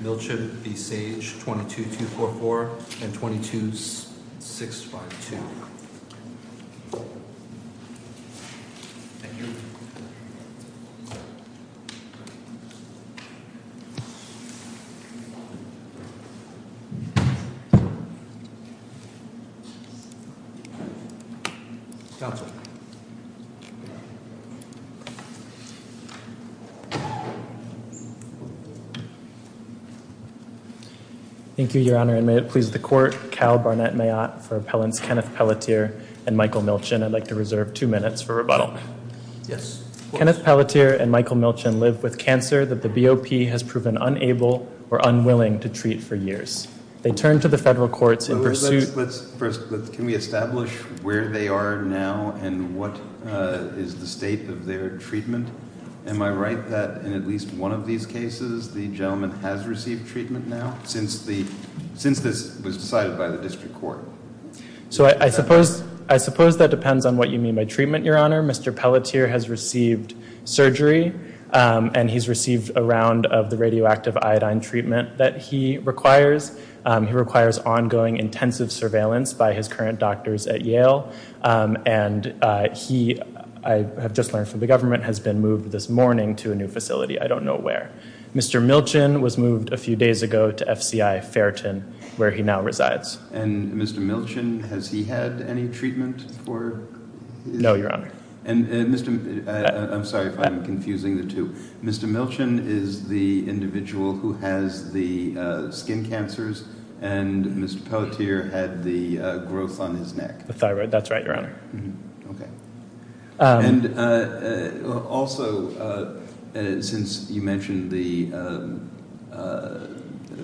v. Sage, 22244 and 22652. Thank you, Your Honor, and may it please the Court, Cal Barnett-Mayotte for Appellants Kenneth Pelletier and Michael Milchin. I'd like to reserve two minutes for rebuttal. Yes. Kenneth Pelletier and Michael Milchin live with cancer that the BOP has proven unable or unwilling to treat for years. They turn to the federal courts in pursuit... since this was decided by the district court. So I suppose that depends on what you mean by treatment, Your Honor. Mr. Pelletier has received surgery, and he's received a round of the radioactive iodine treatment that he requires. He requires ongoing intensive surveillance by his current doctors at Yale, and he, I have just learned from the government, has been moved this morning to a new facility. I don't know where. Mr. Milchin was moved a few days ago to FCI Fairton, where he now resides. And Mr. Milchin, has he had any treatment for... No, Your Honor. I'm sorry if I'm confusing the two. Mr. Milchin is the individual who has the skin cancers, and Mr. Pelletier had the growth on his neck. The thyroid. That's right, Your Honor. Okay. And also, since you mentioned the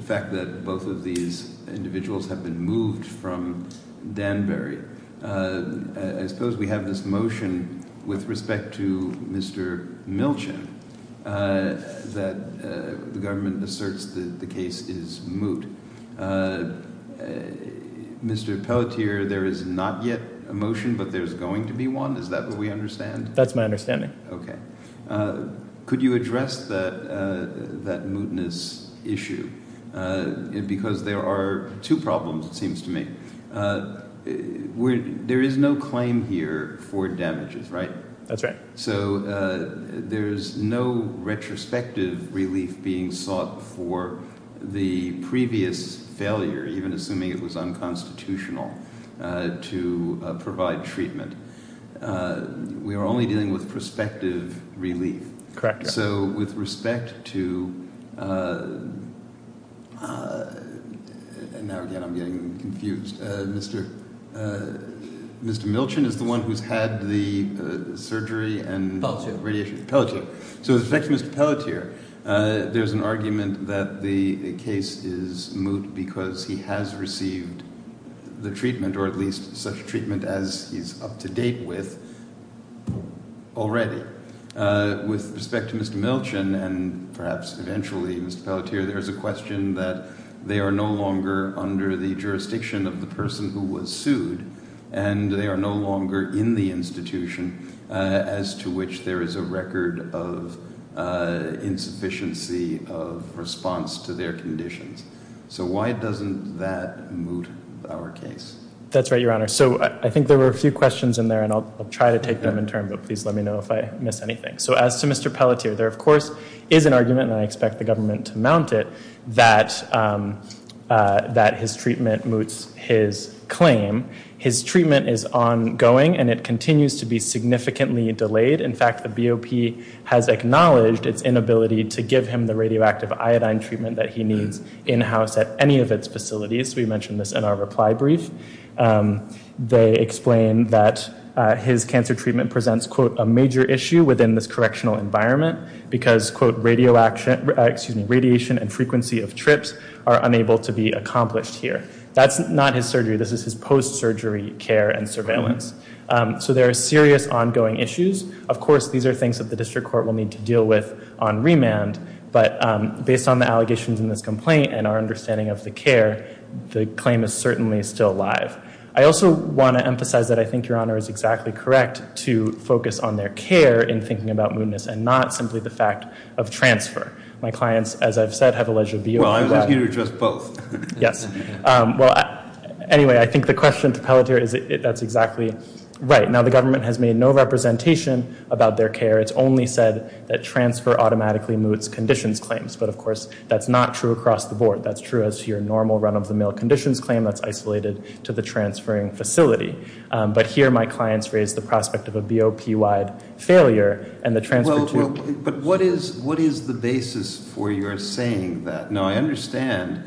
fact that both of these individuals have been moved from Danbury, I suppose we have this motion with respect to Mr. Milchin that the government asserts that the case is moot. Mr. Pelletier, there is not yet a motion, but there's going to be one. Is that what we understand? That's my understanding. Okay. Could you address that mootness issue? Because there are two problems, it seems to me. There is no claim here for damages, right? That's right. So there's no retrospective relief being sought for the previous failure, even assuming it was unconstitutional, to provide treatment. We are only dealing with prospective relief. Now, again, I'm getting confused. Mr. Milchin is the one who's had the surgery and radiation. Pelletier. So with respect to Mr. Pelletier, there's an argument that the case is moot because he has received the treatment, or at least such treatment as he's up to date with already. With respect to Mr. Milchin, and perhaps eventually Mr. Pelletier, there's a question that they are no longer under the jurisdiction of the person who was sued, and they are no longer in the institution as to which there is a record of insufficiency of response to their conditions. So why doesn't that moot our case? That's right, Your Honor. So I think there were a few questions in there, and I'll try to take them in turn, but please let me know if I missed anything. So as to Mr. Pelletier, there, of course, is an argument, and I expect the government to mount it, that his treatment moots his claim. His treatment is ongoing, and it continues to be significantly delayed. In fact, the BOP has acknowledged its inability to give him the radioactive iodine treatment that he needs in-house at any of its facilities. We mentioned this in our reply brief. They explain that his cancer treatment presents, quote, a major issue within this correctional environment because, quote, radiation and frequency of trips are unable to be accomplished here. That's not his surgery. This is his post-surgery care and surveillance. So there are serious ongoing issues. Of course, these are things that the district court will need to deal with on remand, but based on the allegations in this complaint and our understanding of the care, the claim is certainly still alive. I also want to emphasize that I think Your Honor is exactly correct to focus on their care in thinking about mootness and not simply the fact of transfer. My clients, as I've said, have alleged a view of that. Well, I was asking you to address both. Yes. Well, anyway, I think the question to Pelletier is that's exactly right. Now, the government has made no representation about their care. It's only said that transfer automatically moots conditions claims. But, of course, that's not true across the board. That's true as to your normal run-of-the-mill conditions claim that's isolated to the transferring facility. But here my clients raise the prospect of a BOP-wide failure and the transfer to— Well, but what is the basis for your saying that? Now, I understand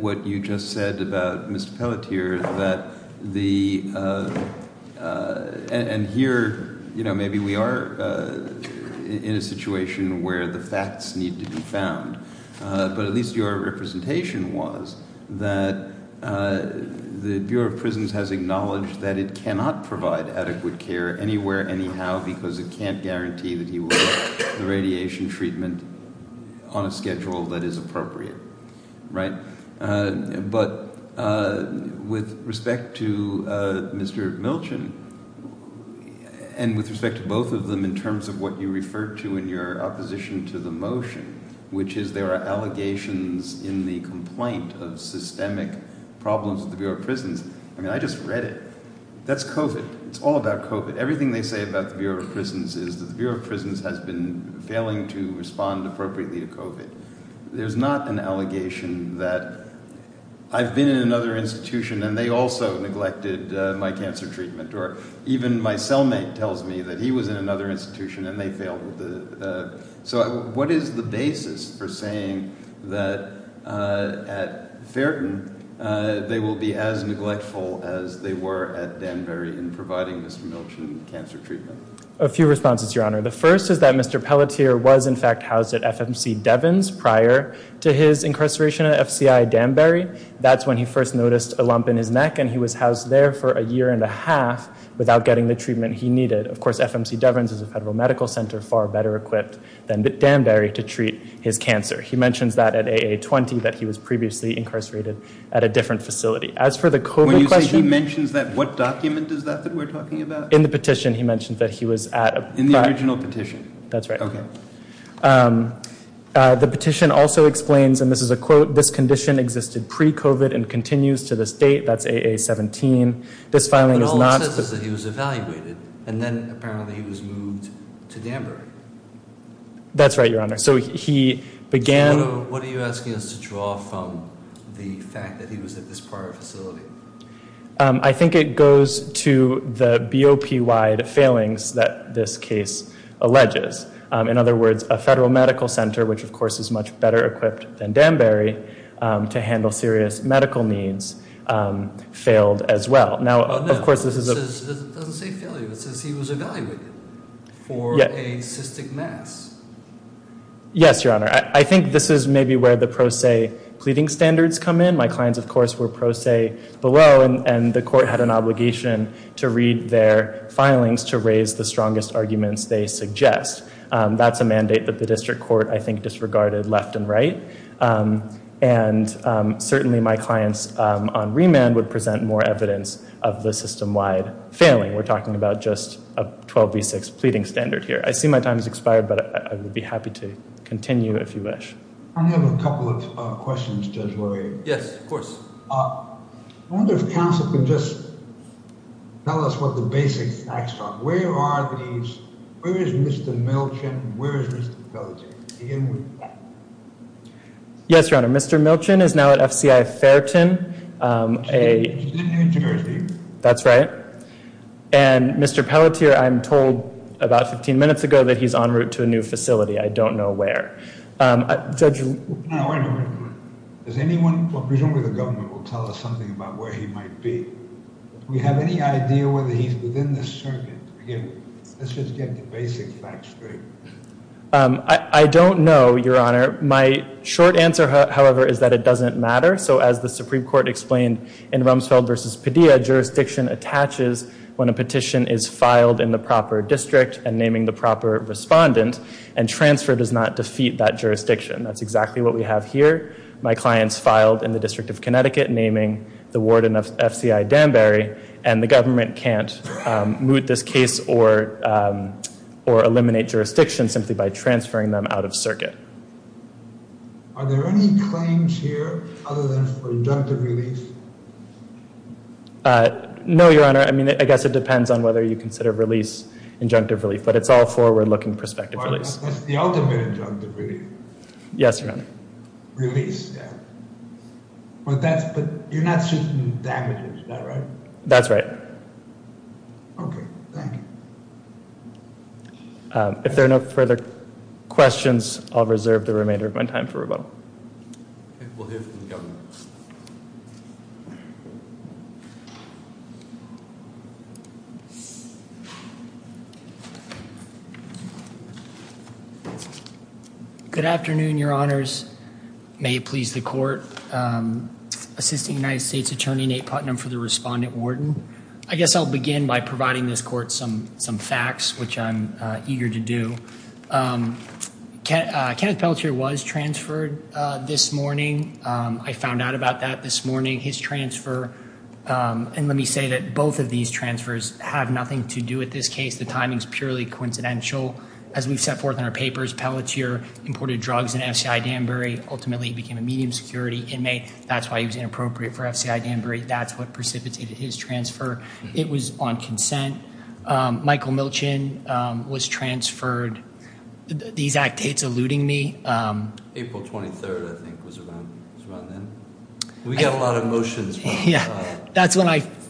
what you just said about Mr. Pelletier that the—and here, you know, maybe we are in a situation where the facts need to be found. But at least your representation was that the Bureau of Prisons has acknowledged that it cannot provide adequate care anywhere, anyhow, because it can't guarantee that he will get the radiation treatment on a schedule that is appropriate, right? But with respect to Mr. Milchen and with respect to both of them in terms of what you referred to in your opposition to the motion, which is there are allegations in the complaint of systemic problems with the Bureau of Prisons— I mean, I just read it. That's COVID. It's all about COVID. Everything they say about the Bureau of Prisons is that the Bureau of Prisons has been failing to respond appropriately to COVID. There's not an allegation that I've been in another institution and they also neglected my cancer treatment, or even my cellmate tells me that he was in another institution and they failed. So what is the basis for saying that at Fairton they will be as neglectful as they were at Danbury in providing Mr. Milchen cancer treatment? A few responses, Your Honor. The first is that Mr. Pelletier was in fact housed at FMC Devins prior to his incarceration at FCI Danbury. That's when he first noticed a lump in his neck and he was housed there for a year and a half without getting the treatment he needed. Of course, FMC Devins is a federal medical center far better equipped than Danbury to treat his cancer. He mentions that at AA20 that he was previously incarcerated at a different facility. As for the COVID question— When you say he mentions that, what document is that that we're talking about? In the petition, he mentioned that he was at— In the original petition? That's right. Okay. The petition also explains, and this is a quote, this condition existed pre-COVID and continues to this date. That's AA17. This filing is not— But all it says is that he was evaluated and then apparently he was moved to Danbury. That's right, Your Honor. So he began— What are you asking us to draw from the fact that he was at this prior facility? I think it goes to the BOP-wide failings that this case alleges. In other words, a federal medical center, which, of course, is much better equipped than Danbury to handle serious medical needs, failed as well. Now, of course, this is a— It doesn't say failure. It says he was evaluated for a cystic mass. Yes, Your Honor. I think this is maybe where the pro se pleading standards come in. My clients, of course, were pro se below, and the court had an obligation to read their filings to raise the strongest arguments they suggest. That's a mandate that the district court, I think, disregarded left and right. And certainly my clients on remand would present more evidence of the system-wide failing. We're talking about just a 12B6 pleading standard here. I see my time has expired, but I would be happy to continue if you wish. I have a couple of questions, Judge LaRue. Yes, of course. I wonder if counsel can just tell us what the basic facts are. Where is Mr. Milchin and where is Mr. Pelletier? Yes, Your Honor. Mr. Milchin is now at FCI Fairton. He's in New Jersey. That's right. And Mr. Pelletier, I'm told about 15 minutes ago that he's en route to a new facility. I don't know where. Now, wait a minute. Does anyone, presumably the government, will tell us something about where he might be? Do we have any idea whether he's within the circuit? Again, let's just get the basic facts straight. I don't know, Your Honor. My short answer, however, is that it doesn't matter. So as the Supreme Court explained in Rumsfeld v. Padilla, jurisdiction attaches when a petition is filed in the proper district and naming the proper respondent, and transfer does not defeat that jurisdiction. That's exactly what we have here. My client's filed in the District of Connecticut naming the warden of FCI Danbury, and the government can't moot this case or eliminate jurisdiction simply by transferring them out of circuit. Are there any claims here other than for injunctive relief? No, Your Honor. I mean, I guess it depends on whether you consider release injunctive relief, but it's all forward-looking prospective release. That's the ultimate injunctive relief? Yes, Your Honor. Release, yeah. But you're not shooting damages, is that right? That's right. Okay, thank you. If there are no further questions, I'll reserve the remainder of my time for rebuttal. Okay, we'll hear from the governor. Good afternoon, Your Honors. May it please the Court. Assisting United States Attorney Nate Putnam for the respondent warden. I guess I'll begin by providing this Court some facts, which I'm eager to do. Kenneth Pelletier was transferred this morning. I found out about that this morning. His transfer, and let me say that both of these transfers have nothing to do with this case. The timing is purely coincidental. As we've set forth in our papers, Pelletier imported drugs into FCI Danbury. Ultimately, he became a medium security inmate. That's why he was inappropriate for FCI Danbury. That's what precipitated his transfer. It was on consent. Michael Milchin was transferred. These act dates are eluding me. April 23rd, I think, was around then. We got a lot of motions.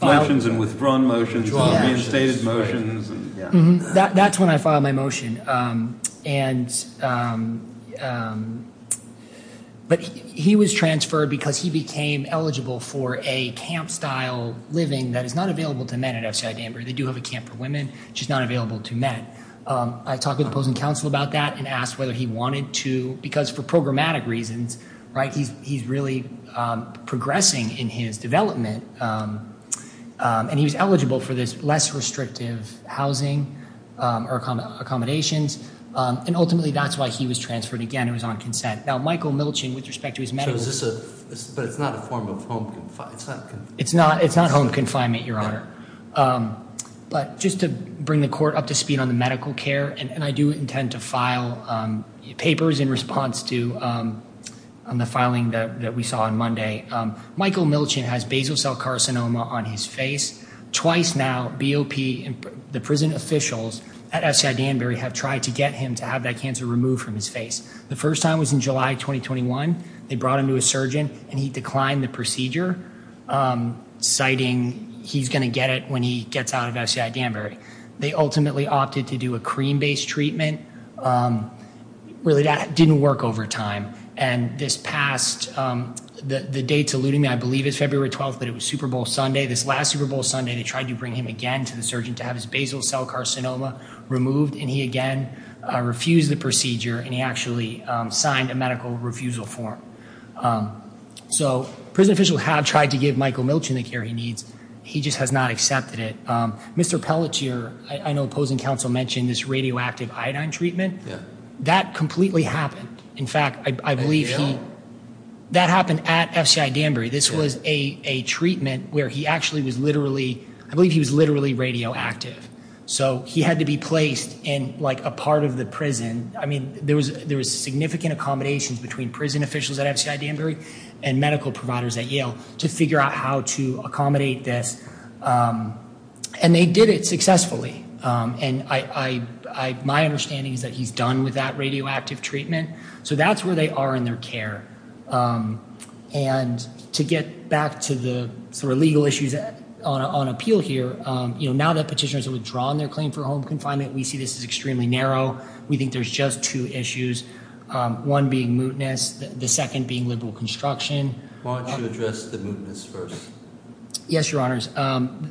Motions and withdrawn motions and reinstated motions. That's when I filed my motion. He was transferred because he became eligible for a camp style living that is not available to men at FCI Danbury. They do have a camp for women, which is not available to men. I talked with opposing counsel about that and asked whether he wanted to, because for programmatic reasons, he's really progressing in his development. He was eligible for this less restrictive housing or accommodations. Ultimately, that's why he was transferred. Again, it was on consent. Now, Michael Milchin, with respect to his medical. But it's not a form of home confinement. It's not home confinement, Your Honor. But just to bring the court up to speed on the medical care. And I do intend to file papers in response to the filing that we saw on Monday. Michael Milchin has basal cell carcinoma on his face. Twice now, BOP and the prison officials at FCI Danbury have tried to get him to have that cancer removed from his face. The first time was in July 2021. They brought him to a surgeon, and he declined the procedure, citing he's going to get it when he gets out of FCI Danbury. They ultimately opted to do a cream-based treatment. Really, that didn't work over time. And this passed. The date's eluding me. I believe it's February 12th, but it was Super Bowl Sunday. This last Super Bowl Sunday, they tried to bring him again to the surgeon to have his basal cell carcinoma removed. And he, again, refused the procedure, and he actually signed a medical refusal form. So prison officials have tried to give Michael Milchin the care he needs. He just has not accepted it. Mr. Pelletier, I know opposing counsel mentioned this radioactive iodine treatment. That completely happened. In fact, I believe he – that happened at FCI Danbury. This was a treatment where he actually was literally – I believe he was literally radioactive. So he had to be placed in, like, a part of the prison. I mean there was significant accommodations between prison officials at FCI Danbury and medical providers at Yale to figure out how to accommodate this. And they did it successfully. And my understanding is that he's done with that radioactive treatment. So that's where they are in their care. And to get back to the sort of legal issues on appeal here, you know, now that petitioners have withdrawn their claim for home confinement, we see this as extremely narrow. We think there's just two issues, one being mootness, the second being liberal construction. Why don't you address the mootness first? Yes, Your Honors.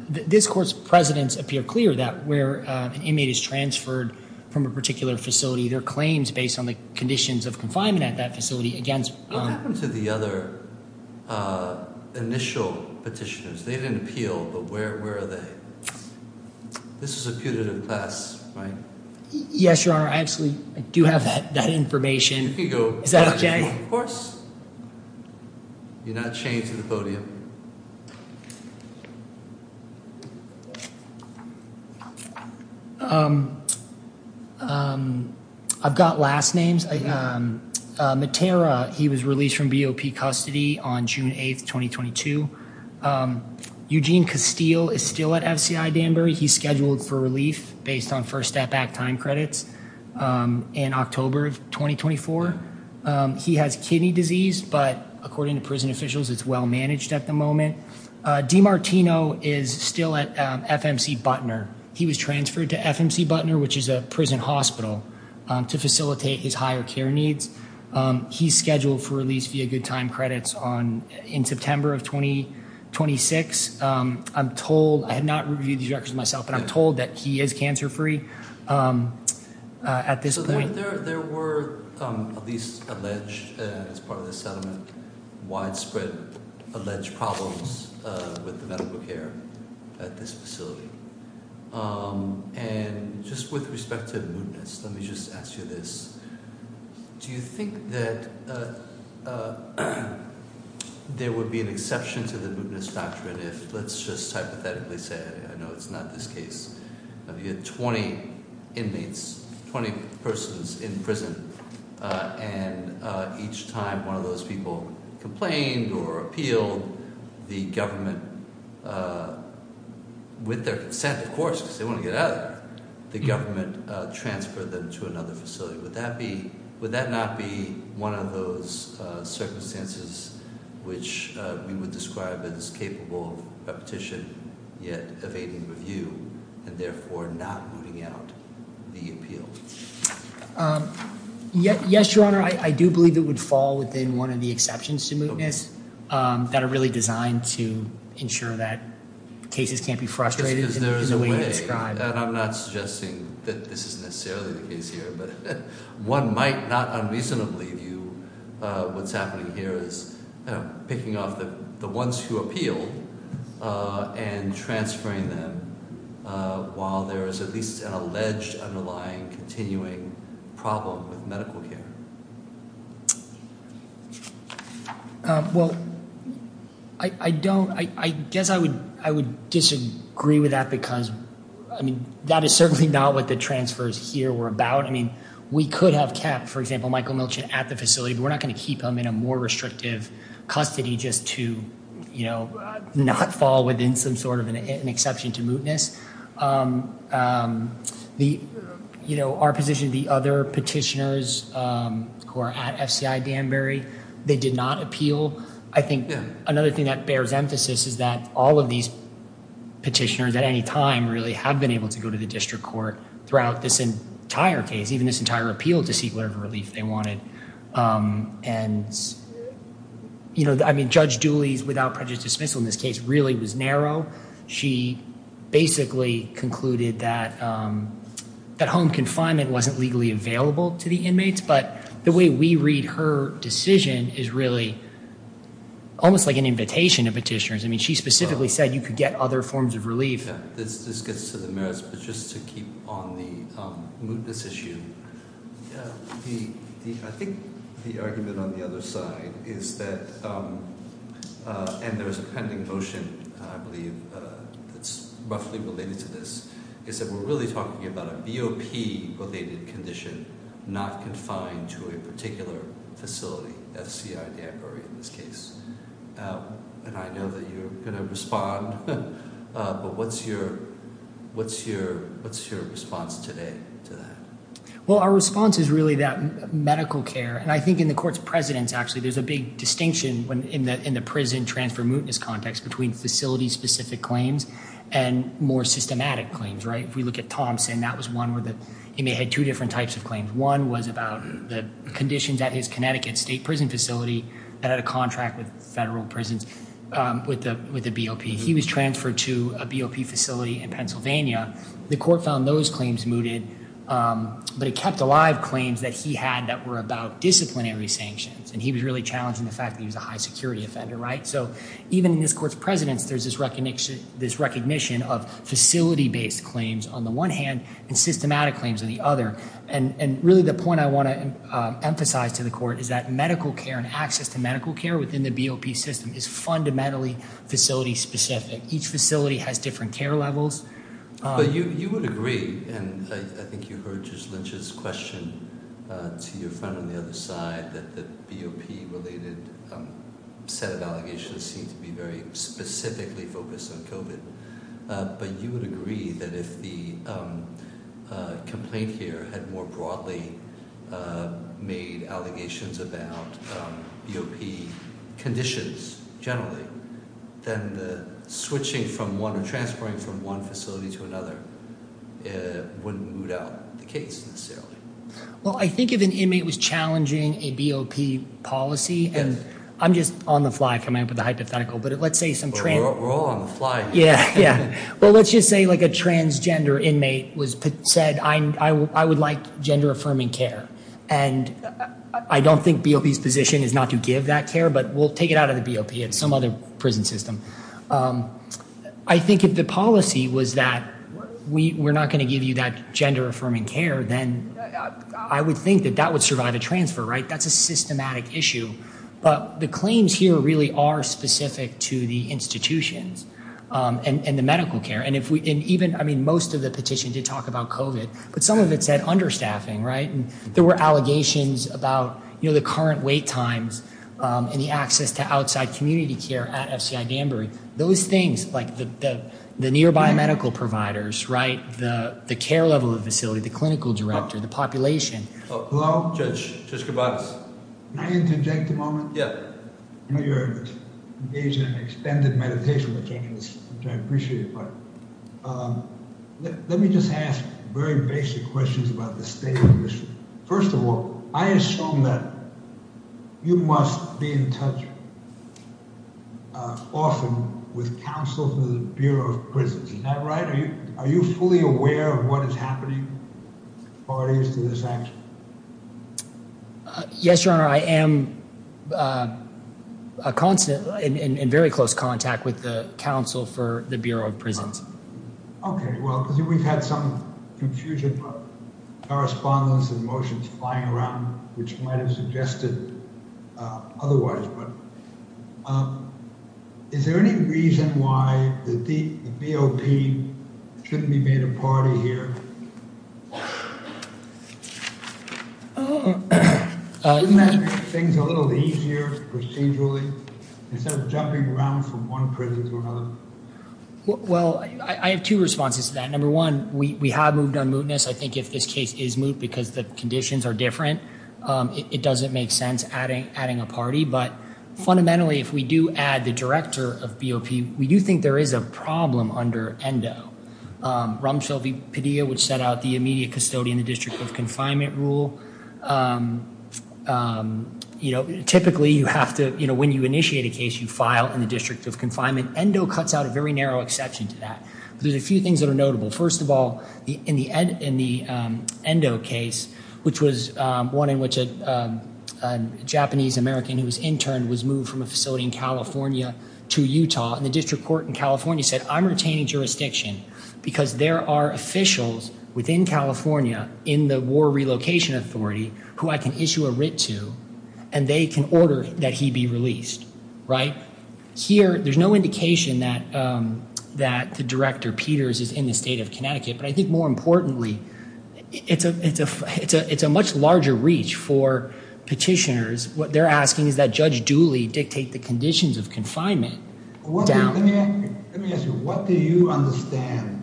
This court's presidents appear clear that where an inmate is transferred from a particular facility, their claims based on the conditions of confinement at that facility against – What happened to the other initial petitioners? They didn't appeal, but where are they? This is a putative class, right? Yes, Your Honor. I actually do have that information. Is that okay? Of course. You're not chained to the podium. Thank you. I've got last names. Matera, he was released from BOP custody on June 8, 2022. Eugene Castile is still at FCI Danbury. He's scheduled for relief based on First Step Act time credits in October of 2024. He has kidney disease, but according to prison officials, it's well managed at the moment. D. Martino is still at FMC Butner. He was transferred to FMC Butner, which is a prison hospital, to facilitate his higher care needs. He's scheduled for release via good time credits in September of 2026. I'm told – I have not reviewed these records myself, but I'm told that he is cancer-free at this point. There were at least alleged, as part of this settlement, widespread alleged problems with the medical care at this facility. And just with respect to the mootness, let me just ask you this. Do you think that there would be an exception to the mootness doctrine if, let's just hypothetically say, I know it's not this case, but if you had 20 inmates, 20 persons in prison, and each time one of those people complained or appealed, the government, with their consent, of course, because they want to get out of there, the government transferred them to another facility. Would that not be one of those circumstances which we would describe as capable of repetition, yet evading review, and therefore not mooting out the appeal? Yes, Your Honor. I do believe it would fall within one of the exceptions to mootness that are really designed to ensure that cases can't be frustrated. That's because there is a way, and I'm not suggesting that this is necessarily the case here, but one might not unreasonably view what's happening here as picking off the ones who appealed and transferring them while there is at least an alleged underlying continuing problem with medical care. Well, I don't, I guess I would disagree with that because, I mean, that is certainly not what the transfers here were about. I mean, we could have kept, for example, Michael Milchin at the facility, but we're not going to keep him in a more restrictive custody just to, you know, not fall within some sort of an exception to mootness. You know, our position, the other petitioners who are at FCI Danbury, they did not appeal. I think another thing that bears emphasis is that all of these petitioners at any time really have been able to go to the district court throughout this entire case, even this entire appeal, to seek whatever relief they wanted. And, you know, I mean, Judge Dooley's without prejudice dismissal in this case really was narrow. She basically concluded that home confinement wasn't legally available to the inmates, but the way we read her decision is really almost like an invitation to petitioners. I mean, she specifically said you could get other forms of relief. This gets to the merits, but just to keep on the mootness issue, I think the argument on the other side is that, and there is a pending motion, I believe, that's roughly related to this, is that we're really talking about a BOP-related condition not confined to a particular facility, FCI Danbury in this case. And I know that you're going to respond, but what's your response today to that? Well, our response is really that medical care. And I think in the court's precedence, actually, there's a big distinction in the prison transfer mootness context between facility-specific claims and more systematic claims, right? If we look at Thompson, that was one where he may have had two different types of claims. One was about the conditions at his Connecticut state prison facility that had a contract with federal prisons with the BOP. He was transferred to a BOP facility in Pennsylvania. The court found those claims mooted, but it kept alive claims that he had that were about disciplinary sanctions. And he was really challenging the fact that he was a high-security offender, right? So even in this court's precedence, there's this recognition of facility-based claims on the one hand and systematic claims on the other. And really the point I want to emphasize to the court is that medical care and access to medical care within the BOP system is fundamentally facility-specific. Each facility has different care levels. But you would agree, and I think you heard Judge Lynch's question to your friend on the other side, that the BOP-related set of allegations seem to be very specifically focused on COVID. But you would agree that if the complaint here had more broadly made allegations about BOP conditions generally, then the switching from one or transferring from one facility to another wouldn't moot out the case necessarily. Well, I think if an inmate was challenging a BOP policy, and I'm just on the fly coming up with a hypothetical. We're all on the fly. Yeah. Well, let's just say like a transgender inmate said, I would like gender-affirming care. And I don't think BOP's position is not to give that care, but we'll take it out of the BOP and some other prison system. I think if the policy was that we're not going to give you that gender-affirming care, then I would think that that would survive a transfer, right? That's a systematic issue. But the claims here really are specific to the institutions and the medical care. And even, I mean, most of the petition did talk about COVID, but some of it said understaffing, right? And there were allegations about, you know, the current wait times and the access to outside community care at FCI Danbury. Those things, like the nearby medical providers, right? The care level of the facility, the clinical director, the population. Hello? Judge, Judge Koubades. Can I interject a moment? Yeah. I know you're engaged in an extended meditation, which I appreciate, but let me just ask very basic questions about the state of the issue. First of all, I assume that you must be in touch often with counsel for the Bureau of Prisons. Is that right? Are you fully aware of what is happening prior to this action? Yes, Your Honor. I am in very close contact with the counsel for the Bureau of Prisons. Okay. Well, we've had some confusion about correspondence and motions flying around, which might have suggested otherwise. Is there any reason why the BOP shouldn't be made a party here? Shouldn't that make things a little easier procedurally instead of jumping around from one prison to another? Well, I have two responses to that. Number one, we have moved on mootness. I think if this case is moot because the conditions are different, it doesn't make sense adding a party. But fundamentally, if we do add the director of BOP, we do think there is a problem under ENDO. Ramshel V. Padilla, which set out the immediate custodian, the district of confinement rule. Typically, when you initiate a case, you file in the district of confinement. ENDO cuts out a very narrow exception to that. There's a few things that are notable. First of all, in the ENDO case, which was one in which a Japanese-American who was interned was moved from a facility in California to Utah. And the district court in California said, I'm retaining jurisdiction because there are officials within California in the war relocation authority who I can issue a writ to. And they can order that he be released. Right? Here, there's no indication that the director, Peters, is in the state of Connecticut. But I think more importantly, it's a much larger reach for petitioners. What they're asking is that Judge Dooley dictate the conditions of confinement. Let me ask you, what do you understand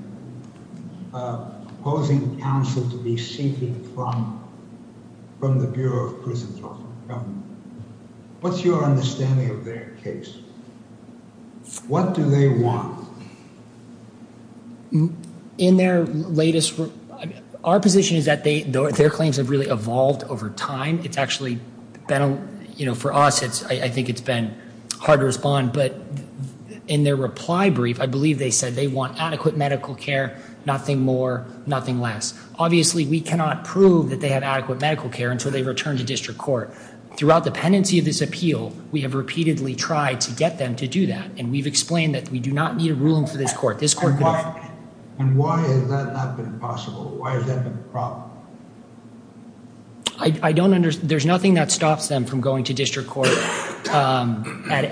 opposing counsel to be seeking from the Bureau of Prisons? What's your understanding of their case? What do they want? In their latest, our position is that their claims have really evolved over time. It's actually been, you know, for us, it's I think it's been hard to respond. But in their reply brief, I believe they said they want adequate medical care. Nothing more. Nothing less. Obviously, we cannot prove that they have adequate medical care until they return to district court. Throughout the pendency of this appeal, we have repeatedly tried to get them to do that. And we've explained that we do not need a ruling for this court. This court. And why is that not been possible? Why is that a problem? I don't understand. There's nothing that stops them from going to district court at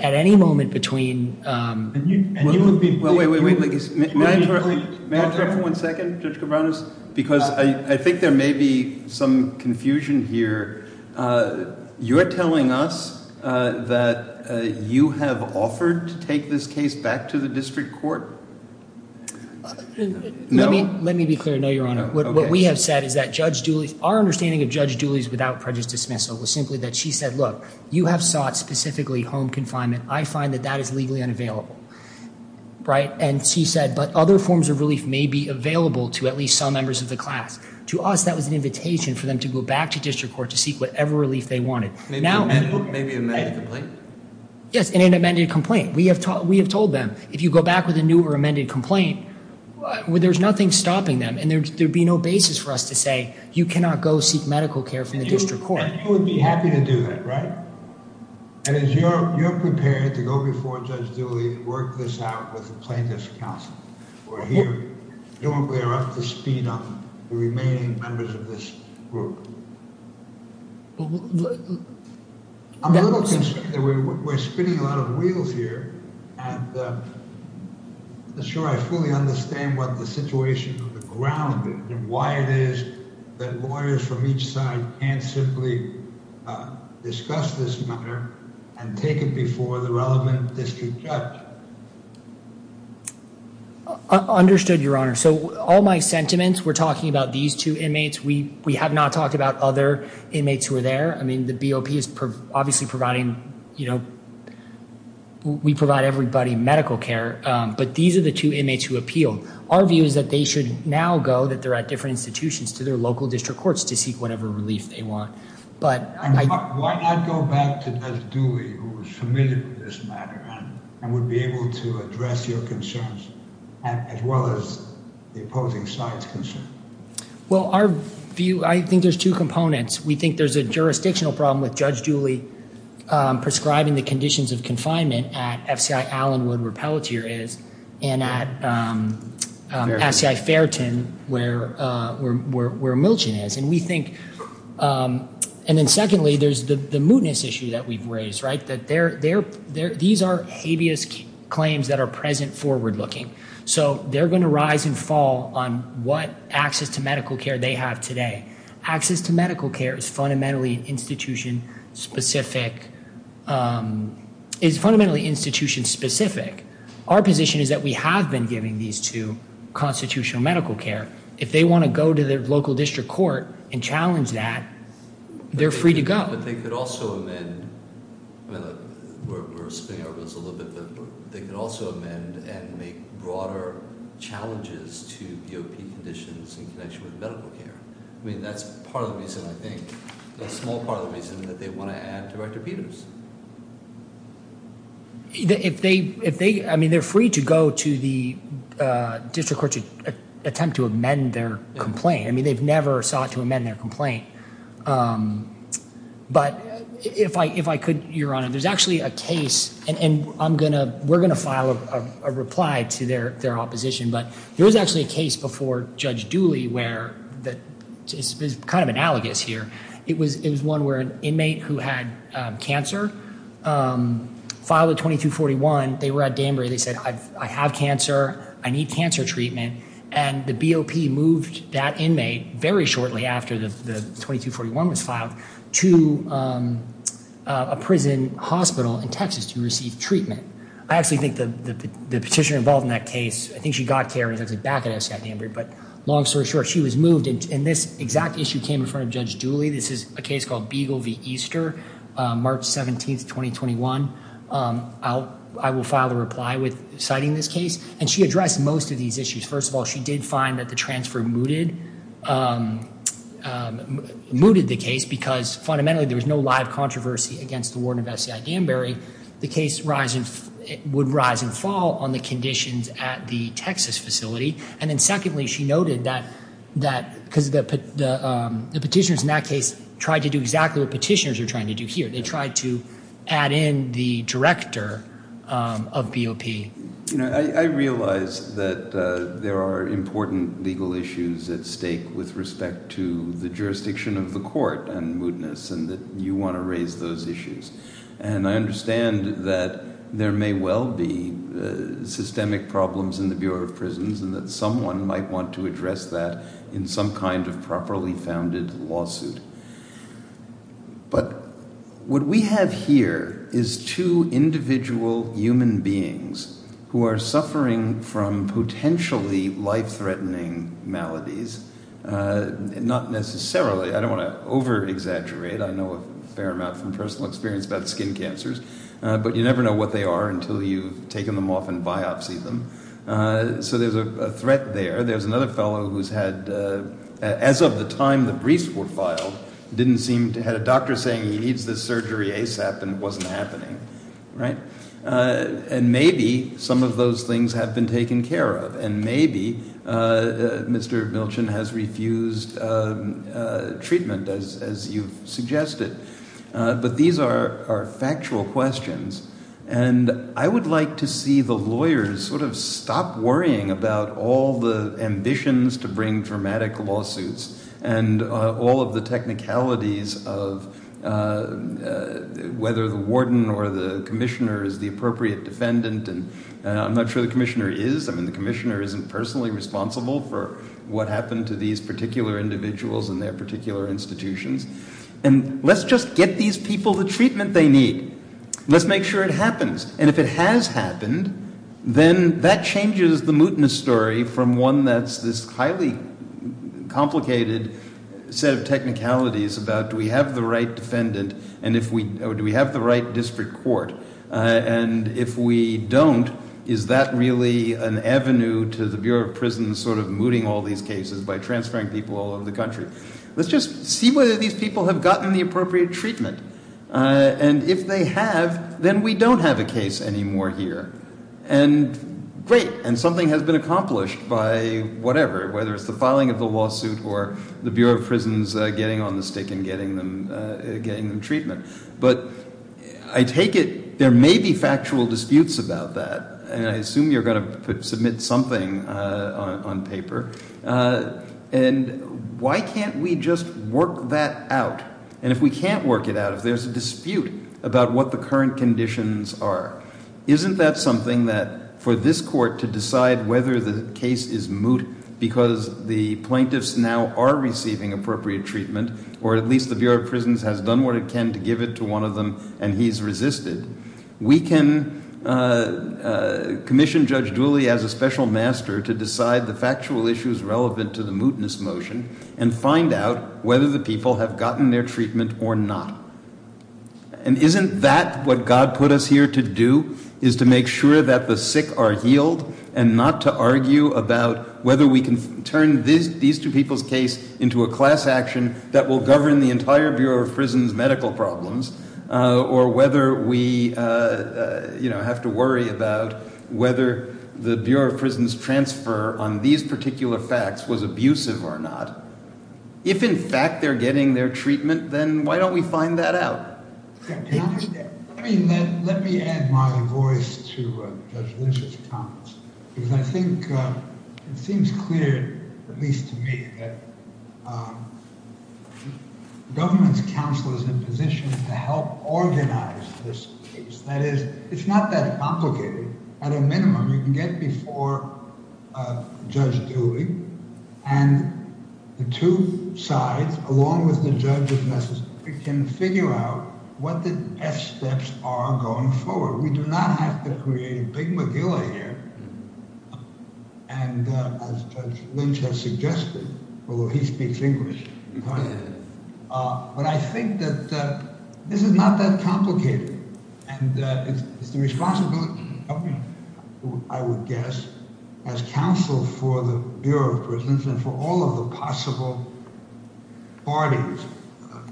any moment between. Wait, wait, wait. May I interrupt for one second, Judge Cabranes? Because I think there may be some confusion here. You're telling us that you have offered to take this case back to the district court? No. Let me be clear. No, Your Honor. What we have said is that Judge Dooley, our understanding of Judge Dooley's without prejudice dismissal, was simply that she said, look, you have sought specifically home confinement. I find that that is legally unavailable. And she said, but other forms of relief may be available to at least some members of the class. To us, that was an invitation for them to go back to district court to seek whatever relief they wanted. Maybe an amended complaint? Yes, an amended complaint. We have told them, if you go back with a new or amended complaint, there's nothing stopping them. And there would be no basis for us to say, you cannot go seek medical care from the district court. And you would be happy to do that, right? And you're prepared to go before Judge Dooley and work this out with the plaintiff's counsel? We're up to speed on the remaining members of this group. I'm a little concerned that we're spinning a lot of wheels here. And I'm not sure I fully understand what the situation on the ground is, and why it is that lawyers from each side can't simply discuss this matter and take it before the relevant district judge. Understood, Your Honor. So all my sentiments, we're talking about these two inmates. We have not talked about other inmates who are there. I mean, the BOP is obviously providing, you know, we provide everybody medical care. But these are the two inmates who appealed. Our view is that they should now go, that they're at different institutions, to their local district courts to seek whatever relief they want. Why not go back to Judge Dooley, who is familiar with this matter, and would be able to address your concerns, as well as the opposing side's concerns? Well, our view, I think there's two components. We think there's a jurisdictional problem with Judge Dooley prescribing the conditions of confinement at FCI Allenwood, where Pelletier is, and at SCI Fairton, where Milchin is. And then secondly, there's the mootness issue that we've raised, right, that these are habeas claims that are present forward-looking. So they're going to rise and fall on what access to medical care they have today. Access to medical care is fundamentally institution-specific. Our position is that we have been giving these to constitutional medical care. If they want to go to their local district court and challenge that, they're free to go. But they could also amend, we're spinning our wheels a little bit, but they could also amend and make broader challenges to BOP conditions in connection with medical care. I mean, that's part of the reason, I think, a small part of the reason that they want to add Director Peterson. If they, I mean, they're free to go to the district court to attempt to amend their complaint. I mean, they've never sought to amend their complaint. But if I could, Your Honor, there's actually a case, and we're going to file a reply to their opposition, but there was actually a case before Judge Dooley where it's kind of analogous here. It was one where an inmate who had cancer filed a 2241. They were at Danbury. They said, I have cancer. I need cancer treatment. And the BOP moved that inmate very shortly after the 2241 was filed to a prison hospital in Texas to receive treatment. I actually think the petitioner involved in that case, I think she got care and was actually back at SCI Danbury. But long story short, she was moved. And this exact issue came in front of Judge Dooley. This is a case called Beagle v. Easter, March 17th, 2021. I will file a reply with citing this case. And she addressed most of these issues. First of all, she did find that the transfer mooted the case because fundamentally there was no live controversy against the warden of SCI Danbury. The case would rise and fall on the conditions at the Texas facility. And then secondly, she noted that because the petitioners in that case tried to do exactly what petitioners are trying to do here. They tried to add in the director of BOP. I realize that there are important legal issues at stake with respect to the jurisdiction of the court and mootness and that you want to raise those issues. And I understand that there may well be systemic problems in the Bureau of Prisons and that someone might want to address that in some kind of properly founded lawsuit. But what we have here is two individual human beings who are suffering from potentially life-threatening maladies. Not necessarily. I don't want to overexaggerate. I know a fair amount from personal experience about skin cancers. But you never know what they are until you've taken them off and biopsied them. So there's a threat there. There's another fellow who's had, as of the time the briefs were filed, didn't seem to have a doctor saying he needs this surgery ASAP and it wasn't happening. Right? And maybe some of those things have been taken care of. And maybe Mr. Milchin has refused treatment, as you've suggested. But these are factual questions. And I would like to see the lawyers sort of stop worrying about all the ambitions to bring dramatic lawsuits and all of the technicalities of whether the warden or the commissioner is the appropriate defendant. And I'm not sure the commissioner is. I mean, the commissioner isn't personally responsible for what happened to these particular individuals and their particular institutions. And let's just get these people the treatment they need. Let's make sure it happens. And if it has happened, then that changes the mootness story from one that's this highly complicated set of technicalities about do we have the right defendant or do we have the right district court. And if we don't, is that really an avenue to the Bureau of Prisons sort of mooting all these cases by transferring people all over the country? Let's just see whether these people have gotten the appropriate treatment. And if they have, then we don't have a case anymore here. And great. And something has been accomplished by whatever, whether it's the filing of the lawsuit or the Bureau of Prisons getting on the stick and getting them treatment. But I take it there may be factual disputes about that, and I assume you're going to submit something on paper. And why can't we just work that out? And if we can't work it out, if there's a dispute about what the current conditions are, isn't that something that for this court to decide whether the case is moot because the plaintiffs now are receiving appropriate treatment, or at least the Bureau of Prisons has done what it can to give it to one of them and he's resisted, we can commission Judge Dooley as a special master to decide the factual issues relevant to the mootness motion and find out whether the people have gotten their treatment or not. And isn't that what God put us here to do, is to make sure that the sick are healed and not to argue about whether we can turn these two people's case into a class action that will govern the entire Bureau of Prisons' medical problems, or whether we have to worry about whether the Bureau of Prisons' transfer on these particular facts was abusive or not. If, in fact, they're getting their treatment, then why don't we find that out? Let me add my voice to Judge Lynch's comments, because I think it seems clear, at least to me, that the government's counsel is in position to help organize this case. That is, it's not that complicated. At a minimum, you can get before Judge Dooley and the two sides, along with the judge, can figure out what the best steps are going forward. We do not have to create a Big McGill here, and as Judge Lynch has suggested, although he speaks English, but I think that this is not that complicated. And it's the responsibility of the government, I would guess, as counsel for the Bureau of Prisons and for all of the possible parties,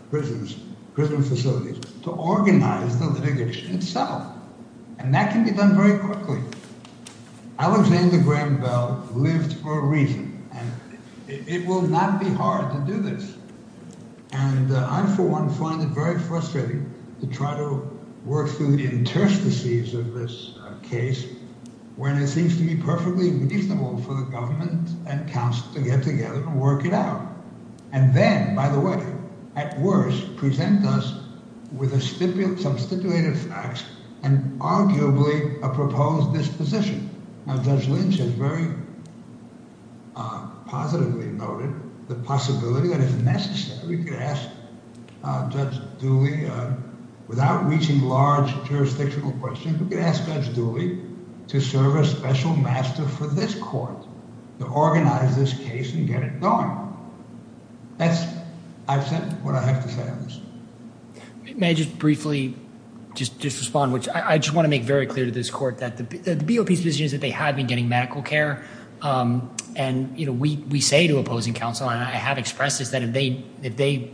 prisons, prison facilities, to organize the litigation itself. And that can be done very quickly. Alexander Graham Bell lived for a reason, and it will not be hard to do this. And I, for one, find it very frustrating to try to work through the interstices of this case, when it seems to be perfectly reasonable for the government and counsel to get together and work it out. And then, by the way, at worst, present us with substituted facts and arguably a proposed disposition. Now, Judge Lynch has very positively noted the possibility that it's necessary to ask Judge Dooley, without reaching large jurisdictional questions, we could ask Judge Dooley to serve as special master for this court, to organize this case and get it going. That's, I've said what I have to say on this. May I just briefly just respond, which I just want to make very clear to this court that the BOP's position is that they have been getting medical care. And, you know, we say to opposing counsel, and I have expressed this, that if they,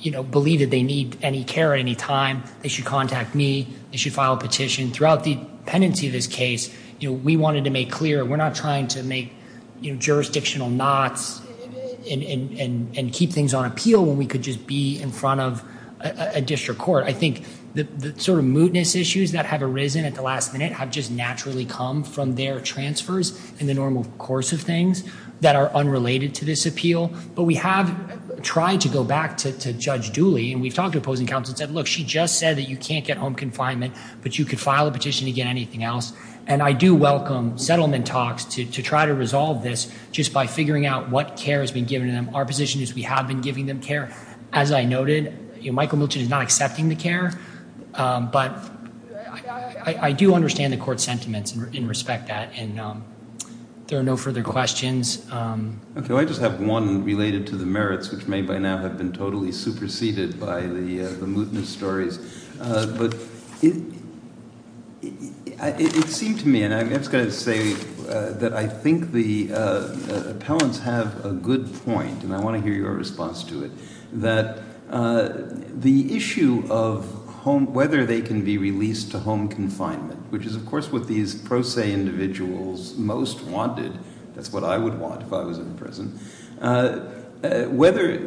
you know, believe that they need any care at any time, they should contact me, they should file a petition. Throughout the pendency of this case, you know, we wanted to make clear we're not trying to make, you know, jurisdictional knots and keep things on appeal when we could just be in front of a district court. I think the sort of mootness issues that have arisen at the last minute have just naturally come from their transfers in the normal course of things that are unrelated to this appeal. But we have tried to go back to Judge Dooley, and we've talked to opposing counsel and said, look, she just said that you can't get home confinement, but you could file a petition to get anything else. And I do welcome settlement talks to try to resolve this just by figuring out what care has been given to them. Our position is we have been giving them care. As I noted, Michael Milton is not accepting the care, but I do understand the court's sentiments and respect that. And there are no further questions. Okay, I just have one related to the merits, which may by now have been totally superseded by the mootness stories. But it seemed to me, and I'm just going to say that I think the appellants have a good point, and I want to hear your response to it, that the issue of whether they can be released to home confinement, which is, of course, what these pro se individuals most wanted. That's what I would want if I was in prison. Whether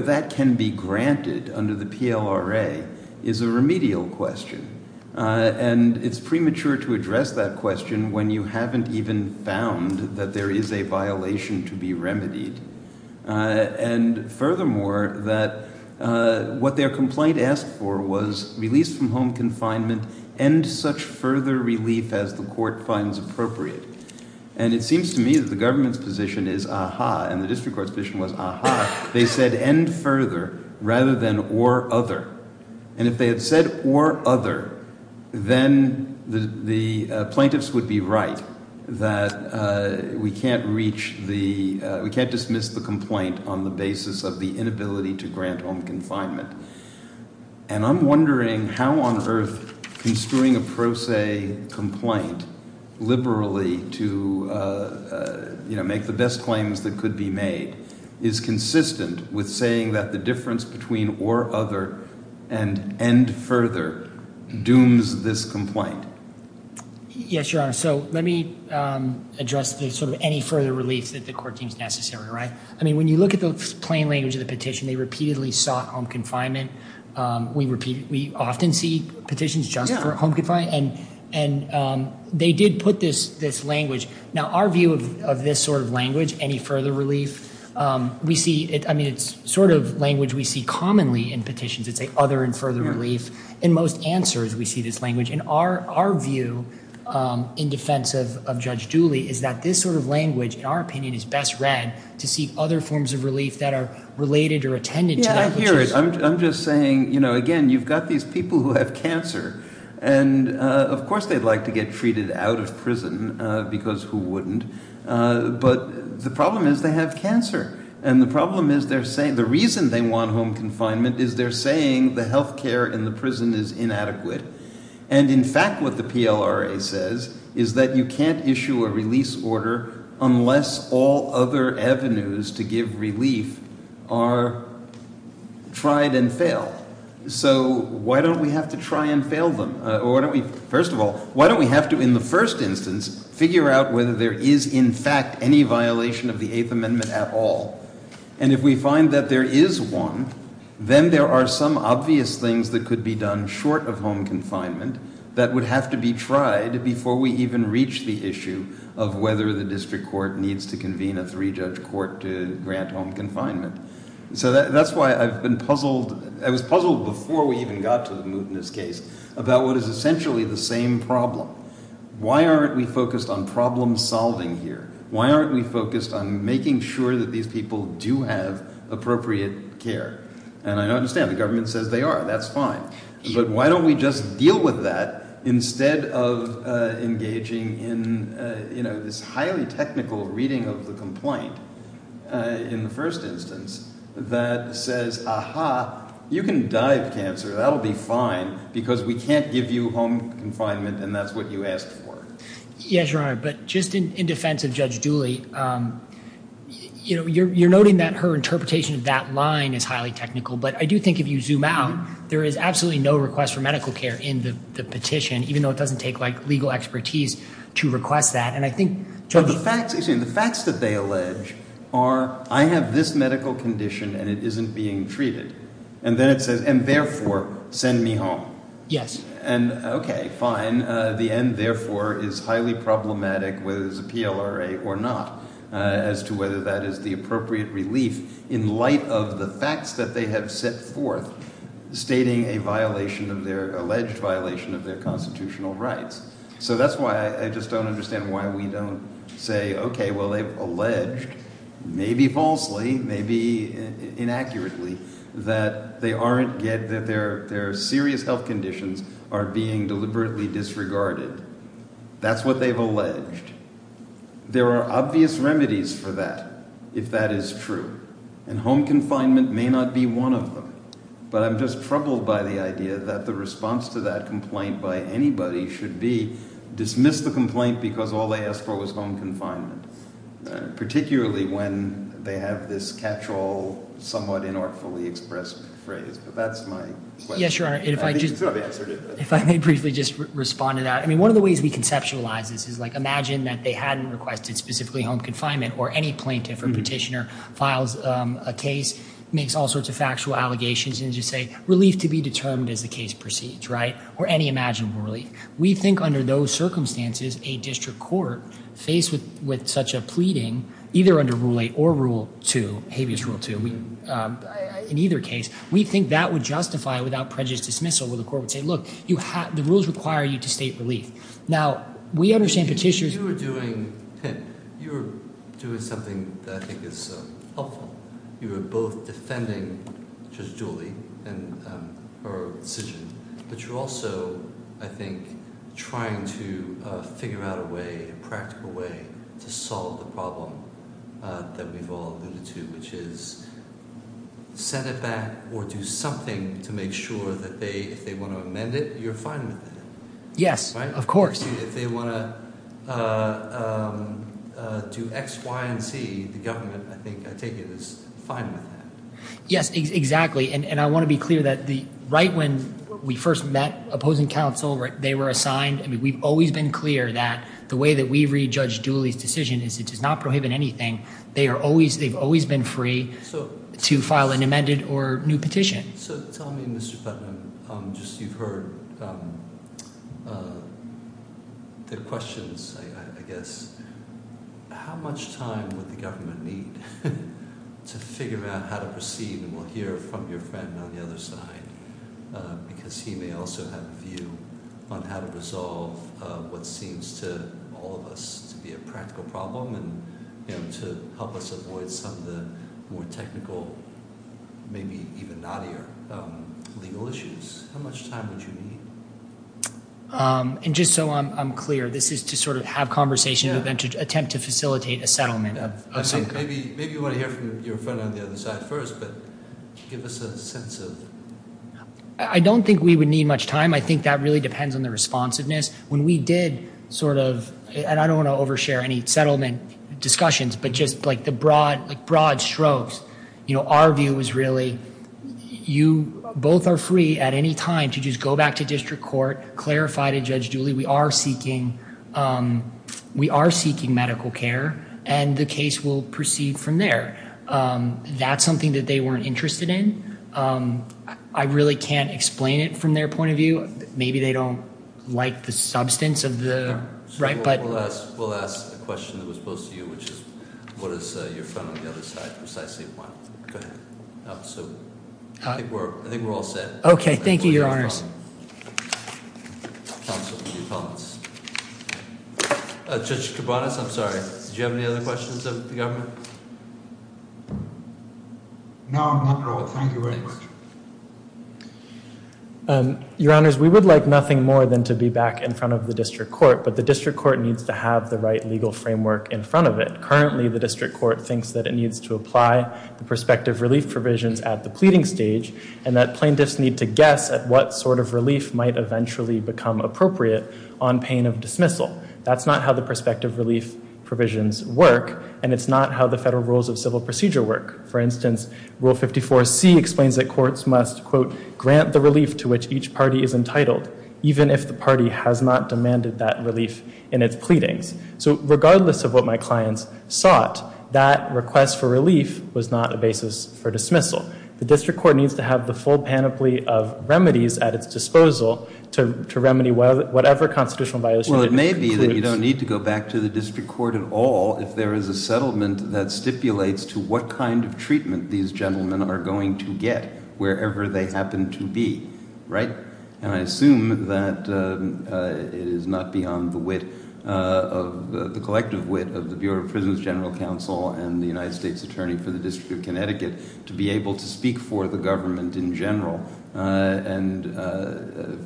that can be granted under the PLRA is a remedial question. And it's premature to address that question when you haven't even found that there is a violation to be remedied. And furthermore, that what their complaint asked for was release from home confinement, end such further relief as the court finds appropriate. And it seems to me that the government's position is aha, and the district court's position was aha. They said end further rather than or other. And if they had said or other, then the plaintiffs would be right that we can't reach the, we can't dismiss the complaint on the basis of the inability to grant home confinement. And I'm wondering how on earth construing a pro se complaint liberally to make the best claims that could be made is consistent with saying that the difference between or other and end further dooms this complaint. Yes, Your Honor. So let me address the sort of any further relief that the court deems necessary, right? I mean, when you look at the plain language of the petition, they repeatedly sought home confinement. We often see petitions just for home confinement. And they did put this language. Now, our view of this sort of language, any further relief, we see it. I mean, it's sort of language we see commonly in petitions that say other and further relief. In most answers, we see this language. And our view in defense of Judge Dooley is that this sort of language, in our opinion, is best read to seek other forms of relief that are related or attended to. Yeah, I hear it. I'm just saying, you know, again, you've got these people who have cancer. And, of course, they'd like to get treated out of prison because who wouldn't? But the problem is they have cancer. And the problem is they're saying the reason they want home confinement is they're saying the health care in the prison is inadequate. And, in fact, what the PLRA says is that you can't issue a release order unless all other avenues to give relief are tried and failed. So why don't we have to try and fail them? First of all, why don't we have to, in the first instance, figure out whether there is, in fact, any violation of the Eighth Amendment at all? And if we find that there is one, then there are some obvious things that could be done short of home confinement that would have to be tried before we even reach the issue of whether the district court needs to convene a three-judge court to grant home confinement. So that's why I've been puzzled. I was puzzled before we even got to the Moutonist case about what is essentially the same problem. Why aren't we focused on problem solving here? Why aren't we focused on making sure that these people do have appropriate care? And I understand the government says they are. That's fine. But why don't we just deal with that instead of engaging in this highly technical reading of the complaint in the first instance that says, aha, you can die of cancer. That will be fine because we can't give you home confinement, and that's what you asked for. Yes, Your Honor. But just in defense of Judge Dooley, you're noting that her interpretation of that line is highly technical. But I do think if you zoom out, there is absolutely no request for medical care in the petition, even though it doesn't take legal expertise to request that. And I think Judge— The facts that they allege are I have this medical condition, and it isn't being treated. And then it says, and therefore, send me home. Yes. And OK, fine. And the end, therefore, is highly problematic whether there's a PLRA or not as to whether that is the appropriate relief in light of the facts that they have set forth stating a violation of their—alleged violation of their constitutional rights. So that's why I just don't understand why we don't say, OK, well, they've alleged, maybe falsely, maybe inaccurately, that they aren't—that their serious health conditions are being deliberately disregarded. That's what they've alleged. There are obvious remedies for that if that is true. And home confinement may not be one of them. But I'm just troubled by the idea that the response to that complaint by anybody should be dismiss the complaint because all they asked for was home confinement, particularly when they have this catch-all, somewhat inartfully expressed phrase. But that's my question. Yes, Your Honor. I think you should have answered it. If I may briefly just respond to that. I mean one of the ways we conceptualize this is, like, imagine that they hadn't requested specifically home confinement or any plaintiff or petitioner files a case, makes all sorts of factual allegations and just say relief to be determined as the case proceeds, right, or any imaginable relief. We think under those circumstances a district court faced with such a pleading, either under Rule 8 or Rule 2, habeas rule 2, in either case, we think that would justify without prejudice dismissal where the court would say, look, the rules require you to state relief. Now, we understand petitioners— You were doing something that I think is helpful. You were both defending Judge Dooley and her decision, but you're also, I think, trying to figure out a way, a practical way, to solve the problem that we've all alluded to, which is send it back or do something to make sure that if they want to amend it, you're fine with it. Yes, of course. Obviously, if they want to do X, Y, and Z, the government, I think, I take it, is fine with that. Yes, exactly, and I want to be clear that right when we first met opposing counsel, they were assigned—I mean, we've always been clear that the way that we read Judge Dooley's decision is it does not prohibit anything. They've always been free to file an amended or new petition. So tell me, Mr. Putnam, just you've heard the questions, I guess. How much time would the government need to figure out how to proceed? And we'll hear from your friend on the other side because he may also have a view on how to resolve what seems to all of us to be a practical problem and to help us avoid some of the more technical, maybe even knottier legal issues. How much time would you need? And just so I'm clear, this is to sort of have conversations and then to attempt to facilitate a settlement of some kind. Maybe you want to hear from your friend on the other side first, but give us a sense of— I don't think we would need much time. I think that really depends on the responsiveness. When we did sort of—and I don't want to overshare any settlement discussions, but just like the broad strokes, our view was really you both are free at any time to just go back to district court, clarify to Judge Dooley we are seeking medical care, and the case will proceed from there. That's something that they weren't interested in. I really can't explain it from their point of view. Maybe they don't like the substance of the— We'll ask a question that was posed to you, which is what does your friend on the other side precisely want? Go ahead. I think we're all set. Okay. Thank you, Your Honors. Counsel, any comments? Judge Cabanas, I'm sorry, did you have any other questions of the government? No, not at all. Thank you very much. Your Honors, we would like nothing more than to be back in front of the district court, but the district court needs to have the right legal framework in front of it. Currently, the district court thinks that it needs to apply the prospective relief provisions at the pleading stage, and that plaintiffs need to guess at what sort of relief might eventually become appropriate on pain of dismissal. That's not how the prospective relief provisions work, and it's not how the federal rules of civil procedure work. For instance, Rule 54C explains that courts must, quote, grant the relief to which each party is entitled, even if the party has not demanded that relief in its pleadings. So regardless of what my clients sought, that request for relief was not a basis for dismissal. The district court needs to have the full panoply of remedies at its disposal to remedy whatever constitutional violation it includes. You don't need to go back to the district court at all if there is a settlement that stipulates to what kind of treatment these gentlemen are going to get, wherever they happen to be, right? And I assume that it is not beyond the wit of – the collective wit of the Bureau of Prisons General Counsel and the United States Attorney for the District of Connecticut to be able to speak for the government in general and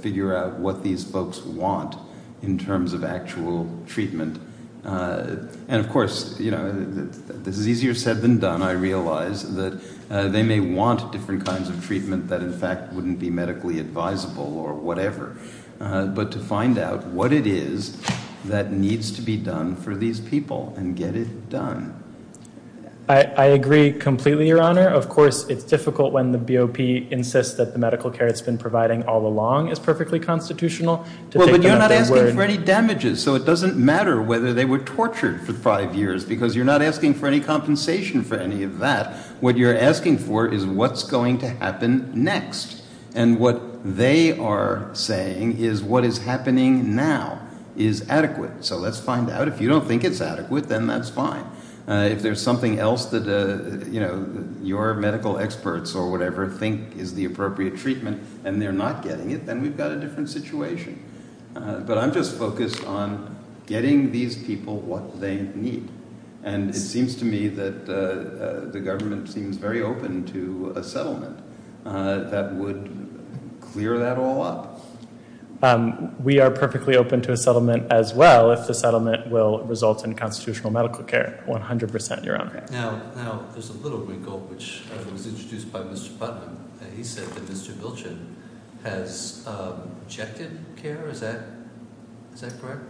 figure out what these folks want in terms of actual treatment. And of course, you know, this is easier said than done, I realize, that they may want different kinds of treatment that in fact wouldn't be medically advisable or whatever, but to find out what it is that needs to be done for these people and get it done. I agree completely, Your Honor. Of course, it's difficult when the BOP insists that the medical care it's been providing all along is perfectly constitutional to take them at their word. But you're not asking for any damages, so it doesn't matter whether they were tortured for five years because you're not asking for any compensation for any of that. What you're asking for is what's going to happen next. And what they are saying is what is happening now is adequate. So let's find out. If you don't think it's adequate, then that's fine. If there's something else that, you know, your medical experts or whatever think is the appropriate treatment and they're not getting it, then we've got a different situation. But I'm just focused on getting these people what they need. And it seems to me that the government seems very open to a settlement that would clear that all up. We are perfectly open to a settlement as well if the settlement will result in constitutional medical care, 100%, Your Honor. Now, there's a little wrinkle, which was introduced by Mr. Putnam. He said that Mr. Bilchin has checked in care. Is that correct?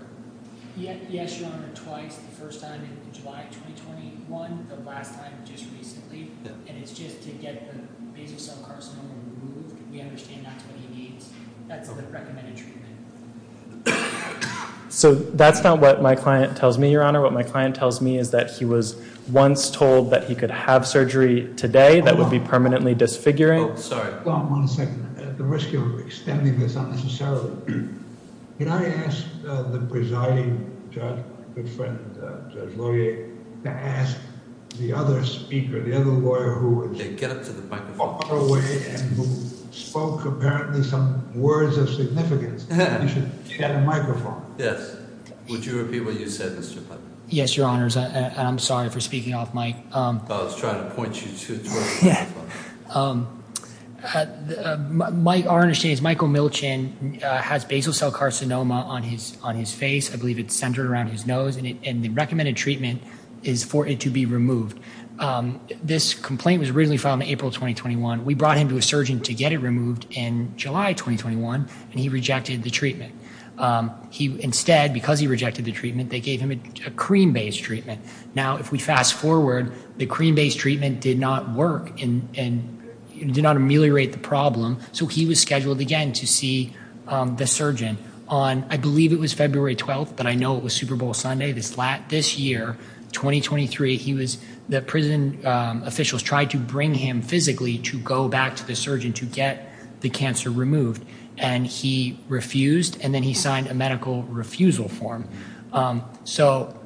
Yes, Your Honor, twice. The first time in July of 2021, the last time just recently. And it's just to get the basal cell carcinoma removed. We understand that's what he needs. That's the recommended treatment. So that's not what my client tells me, Your Honor. What my client tells me is that he was once told that he could have surgery today that would be permanently disfiguring. Oh, sorry. One second. The risk of extending this unnecessarily. Can I ask the presiding judge, my good friend, Judge Laurier, to ask the other speaker, the other lawyer who was far away and spoke apparently some words of significance. You should get a microphone. Yes. Would you repeat what you said, Mr. Putnam? Yes, Your Honors. I'm sorry for speaking off mic. I was trying to point you to a microphone. Our understanding is Michael Milchin has basal cell carcinoma on his face. I believe it's centered around his nose. And the recommended treatment is for it to be removed. This complaint was originally filed in April 2021. We brought him to a surgeon to get it removed in July 2021, and he rejected the treatment. Instead, because he rejected the treatment, they gave him a cream-based treatment. Now, if we fast forward, the cream-based treatment did not work and did not ameliorate the problem, so he was scheduled again to see the surgeon. I believe it was February 12th, but I know it was Super Bowl Sunday this year, 2023. The prison officials tried to bring him physically to go back to the surgeon to get the cancer removed, and he refused, and then he signed a medical refusal form. So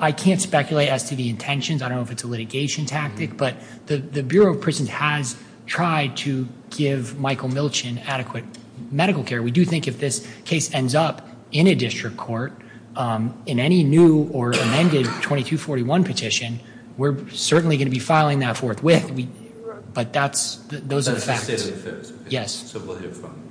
I can't speculate as to the intentions. I don't know if it's a litigation tactic, but the Bureau of Prisons has tried to give Michael Milchin adequate medical care. We do think if this case ends up in a district court, in any new or amended 2241 petition, we're certainly going to be filing that forthwith. But those are the facts. That's the state of affairs. Yes. So we'll hear from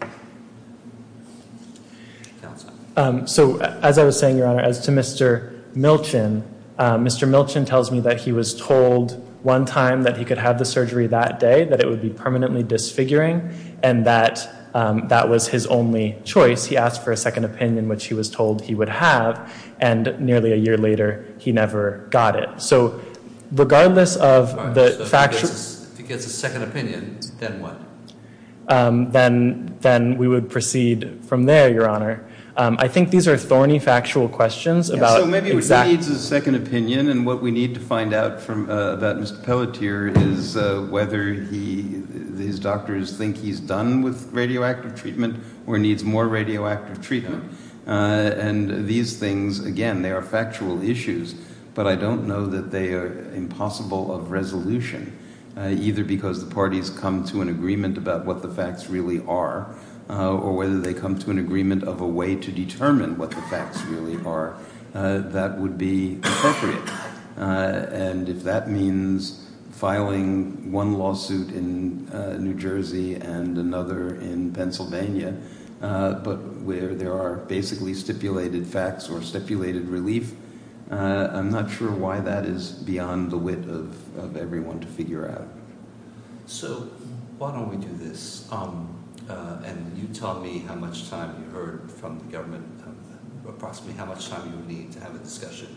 counsel. So as I was saying, Your Honor, as to Mr. Milchin, Mr. Milchin tells me that he was told one time that he could have the surgery that day, that it would be permanently disfiguring, and that that was his only choice. He asked for a second opinion, which he was told he would have, and nearly a year later, he never got it. So regardless of the fact— All right, so if he gets a second opinion, then what? Then we would proceed from there, Your Honor. I think these are thorny factual questions about exact— So maybe he needs a second opinion, and what we need to find out from that Mr. Pelletier is whether these doctors think he's done with radioactive treatment or needs more radioactive treatment. And these things, again, they are factual issues, but I don't know that they are impossible of resolution, either because the parties come to an agreement about what the facts really are or whether they come to an agreement of a way to determine what the facts really are that would be appropriate. And if that means filing one lawsuit in New Jersey and another in Pennsylvania, but where there are basically stipulated facts or stipulated relief, I'm not sure why that is beyond the wit of everyone to figure out. So why don't we do this, and you tell me how much time you heard from the government, approximately how much time you would need to have a discussion,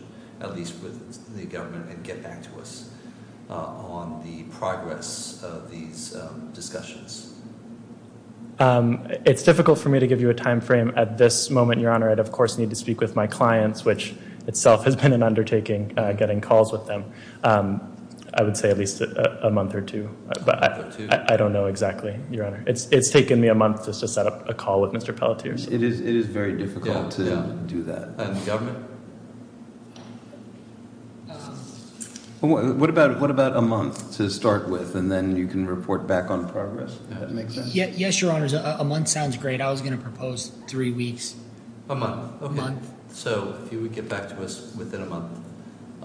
at least with the government, and get back to us on the progress of these discussions. It's difficult for me to give you a timeframe at this moment, Your Honor. I'd, of course, need to speak with my clients, which itself has been an undertaking, getting calls with them. I would say at least a month or two. A month or two? I don't know exactly, Your Honor. It's taken me a month just to set up a call with Mr. Pelletier. It is very difficult to do that. And the government? What about a month to start with, and then you can report back on progress, if that makes sense? Yes, Your Honor. A month sounds great. I was going to propose three weeks. A month. A month. So if you would get back to us within a month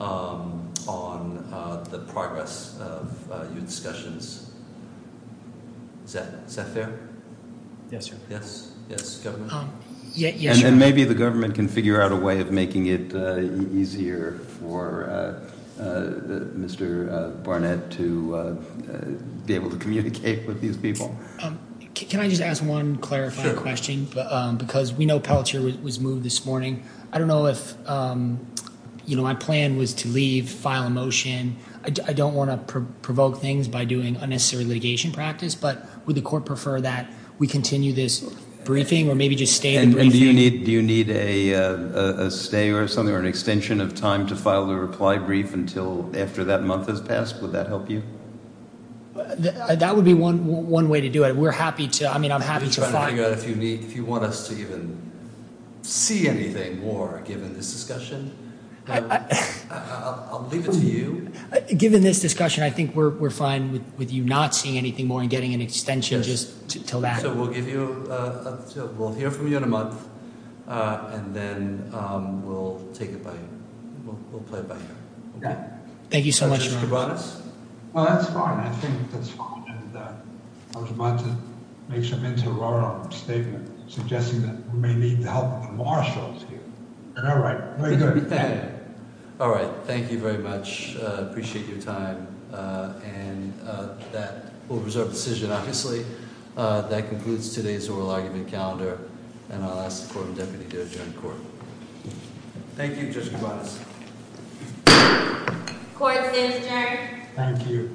on the progress of your discussions. Is that fair? Yes, Your Honor. Yes? Yes, government? Yes, Your Honor. And maybe the government can figure out a way of making it easier for Mr. Barnett to be able to communicate with these people. Can I just ask one clarifying question? Sure. Because we know Pelletier was moved this morning. I don't know if, you know, my plan was to leave, file a motion. I don't want to provoke things by doing unnecessary litigation practice, but would the court prefer that we continue this briefing or maybe just stay the briefing? And do you need a stay or something or an extension of time to file the reply brief until after that month has passed? Would that help you? That would be one way to do it. We're happy to, I mean, I'm happy to file. If you want us to even see anything more given this discussion, I'll leave it to you. Given this discussion, I think we're fine with you not seeing anything more and getting an extension just until that. So we'll give you, we'll hear from you in a month, and then we'll take it by, we'll play it by ear. Thank you so much, Your Honor. Mr. Bonas? Well, that's fine. I think that's fine. And I was about to make some interim statement suggesting that we may need the help of the marshals here. All right. Very good. Thank you. All right. Thank you very much. Appreciate your time. And that will reserve the decision, obviously. That concludes today's oral argument calendar, and I'll ask the court and deputy to adjourn the court. Thank you, Justice Bonas. Court is adjourned. Thank you.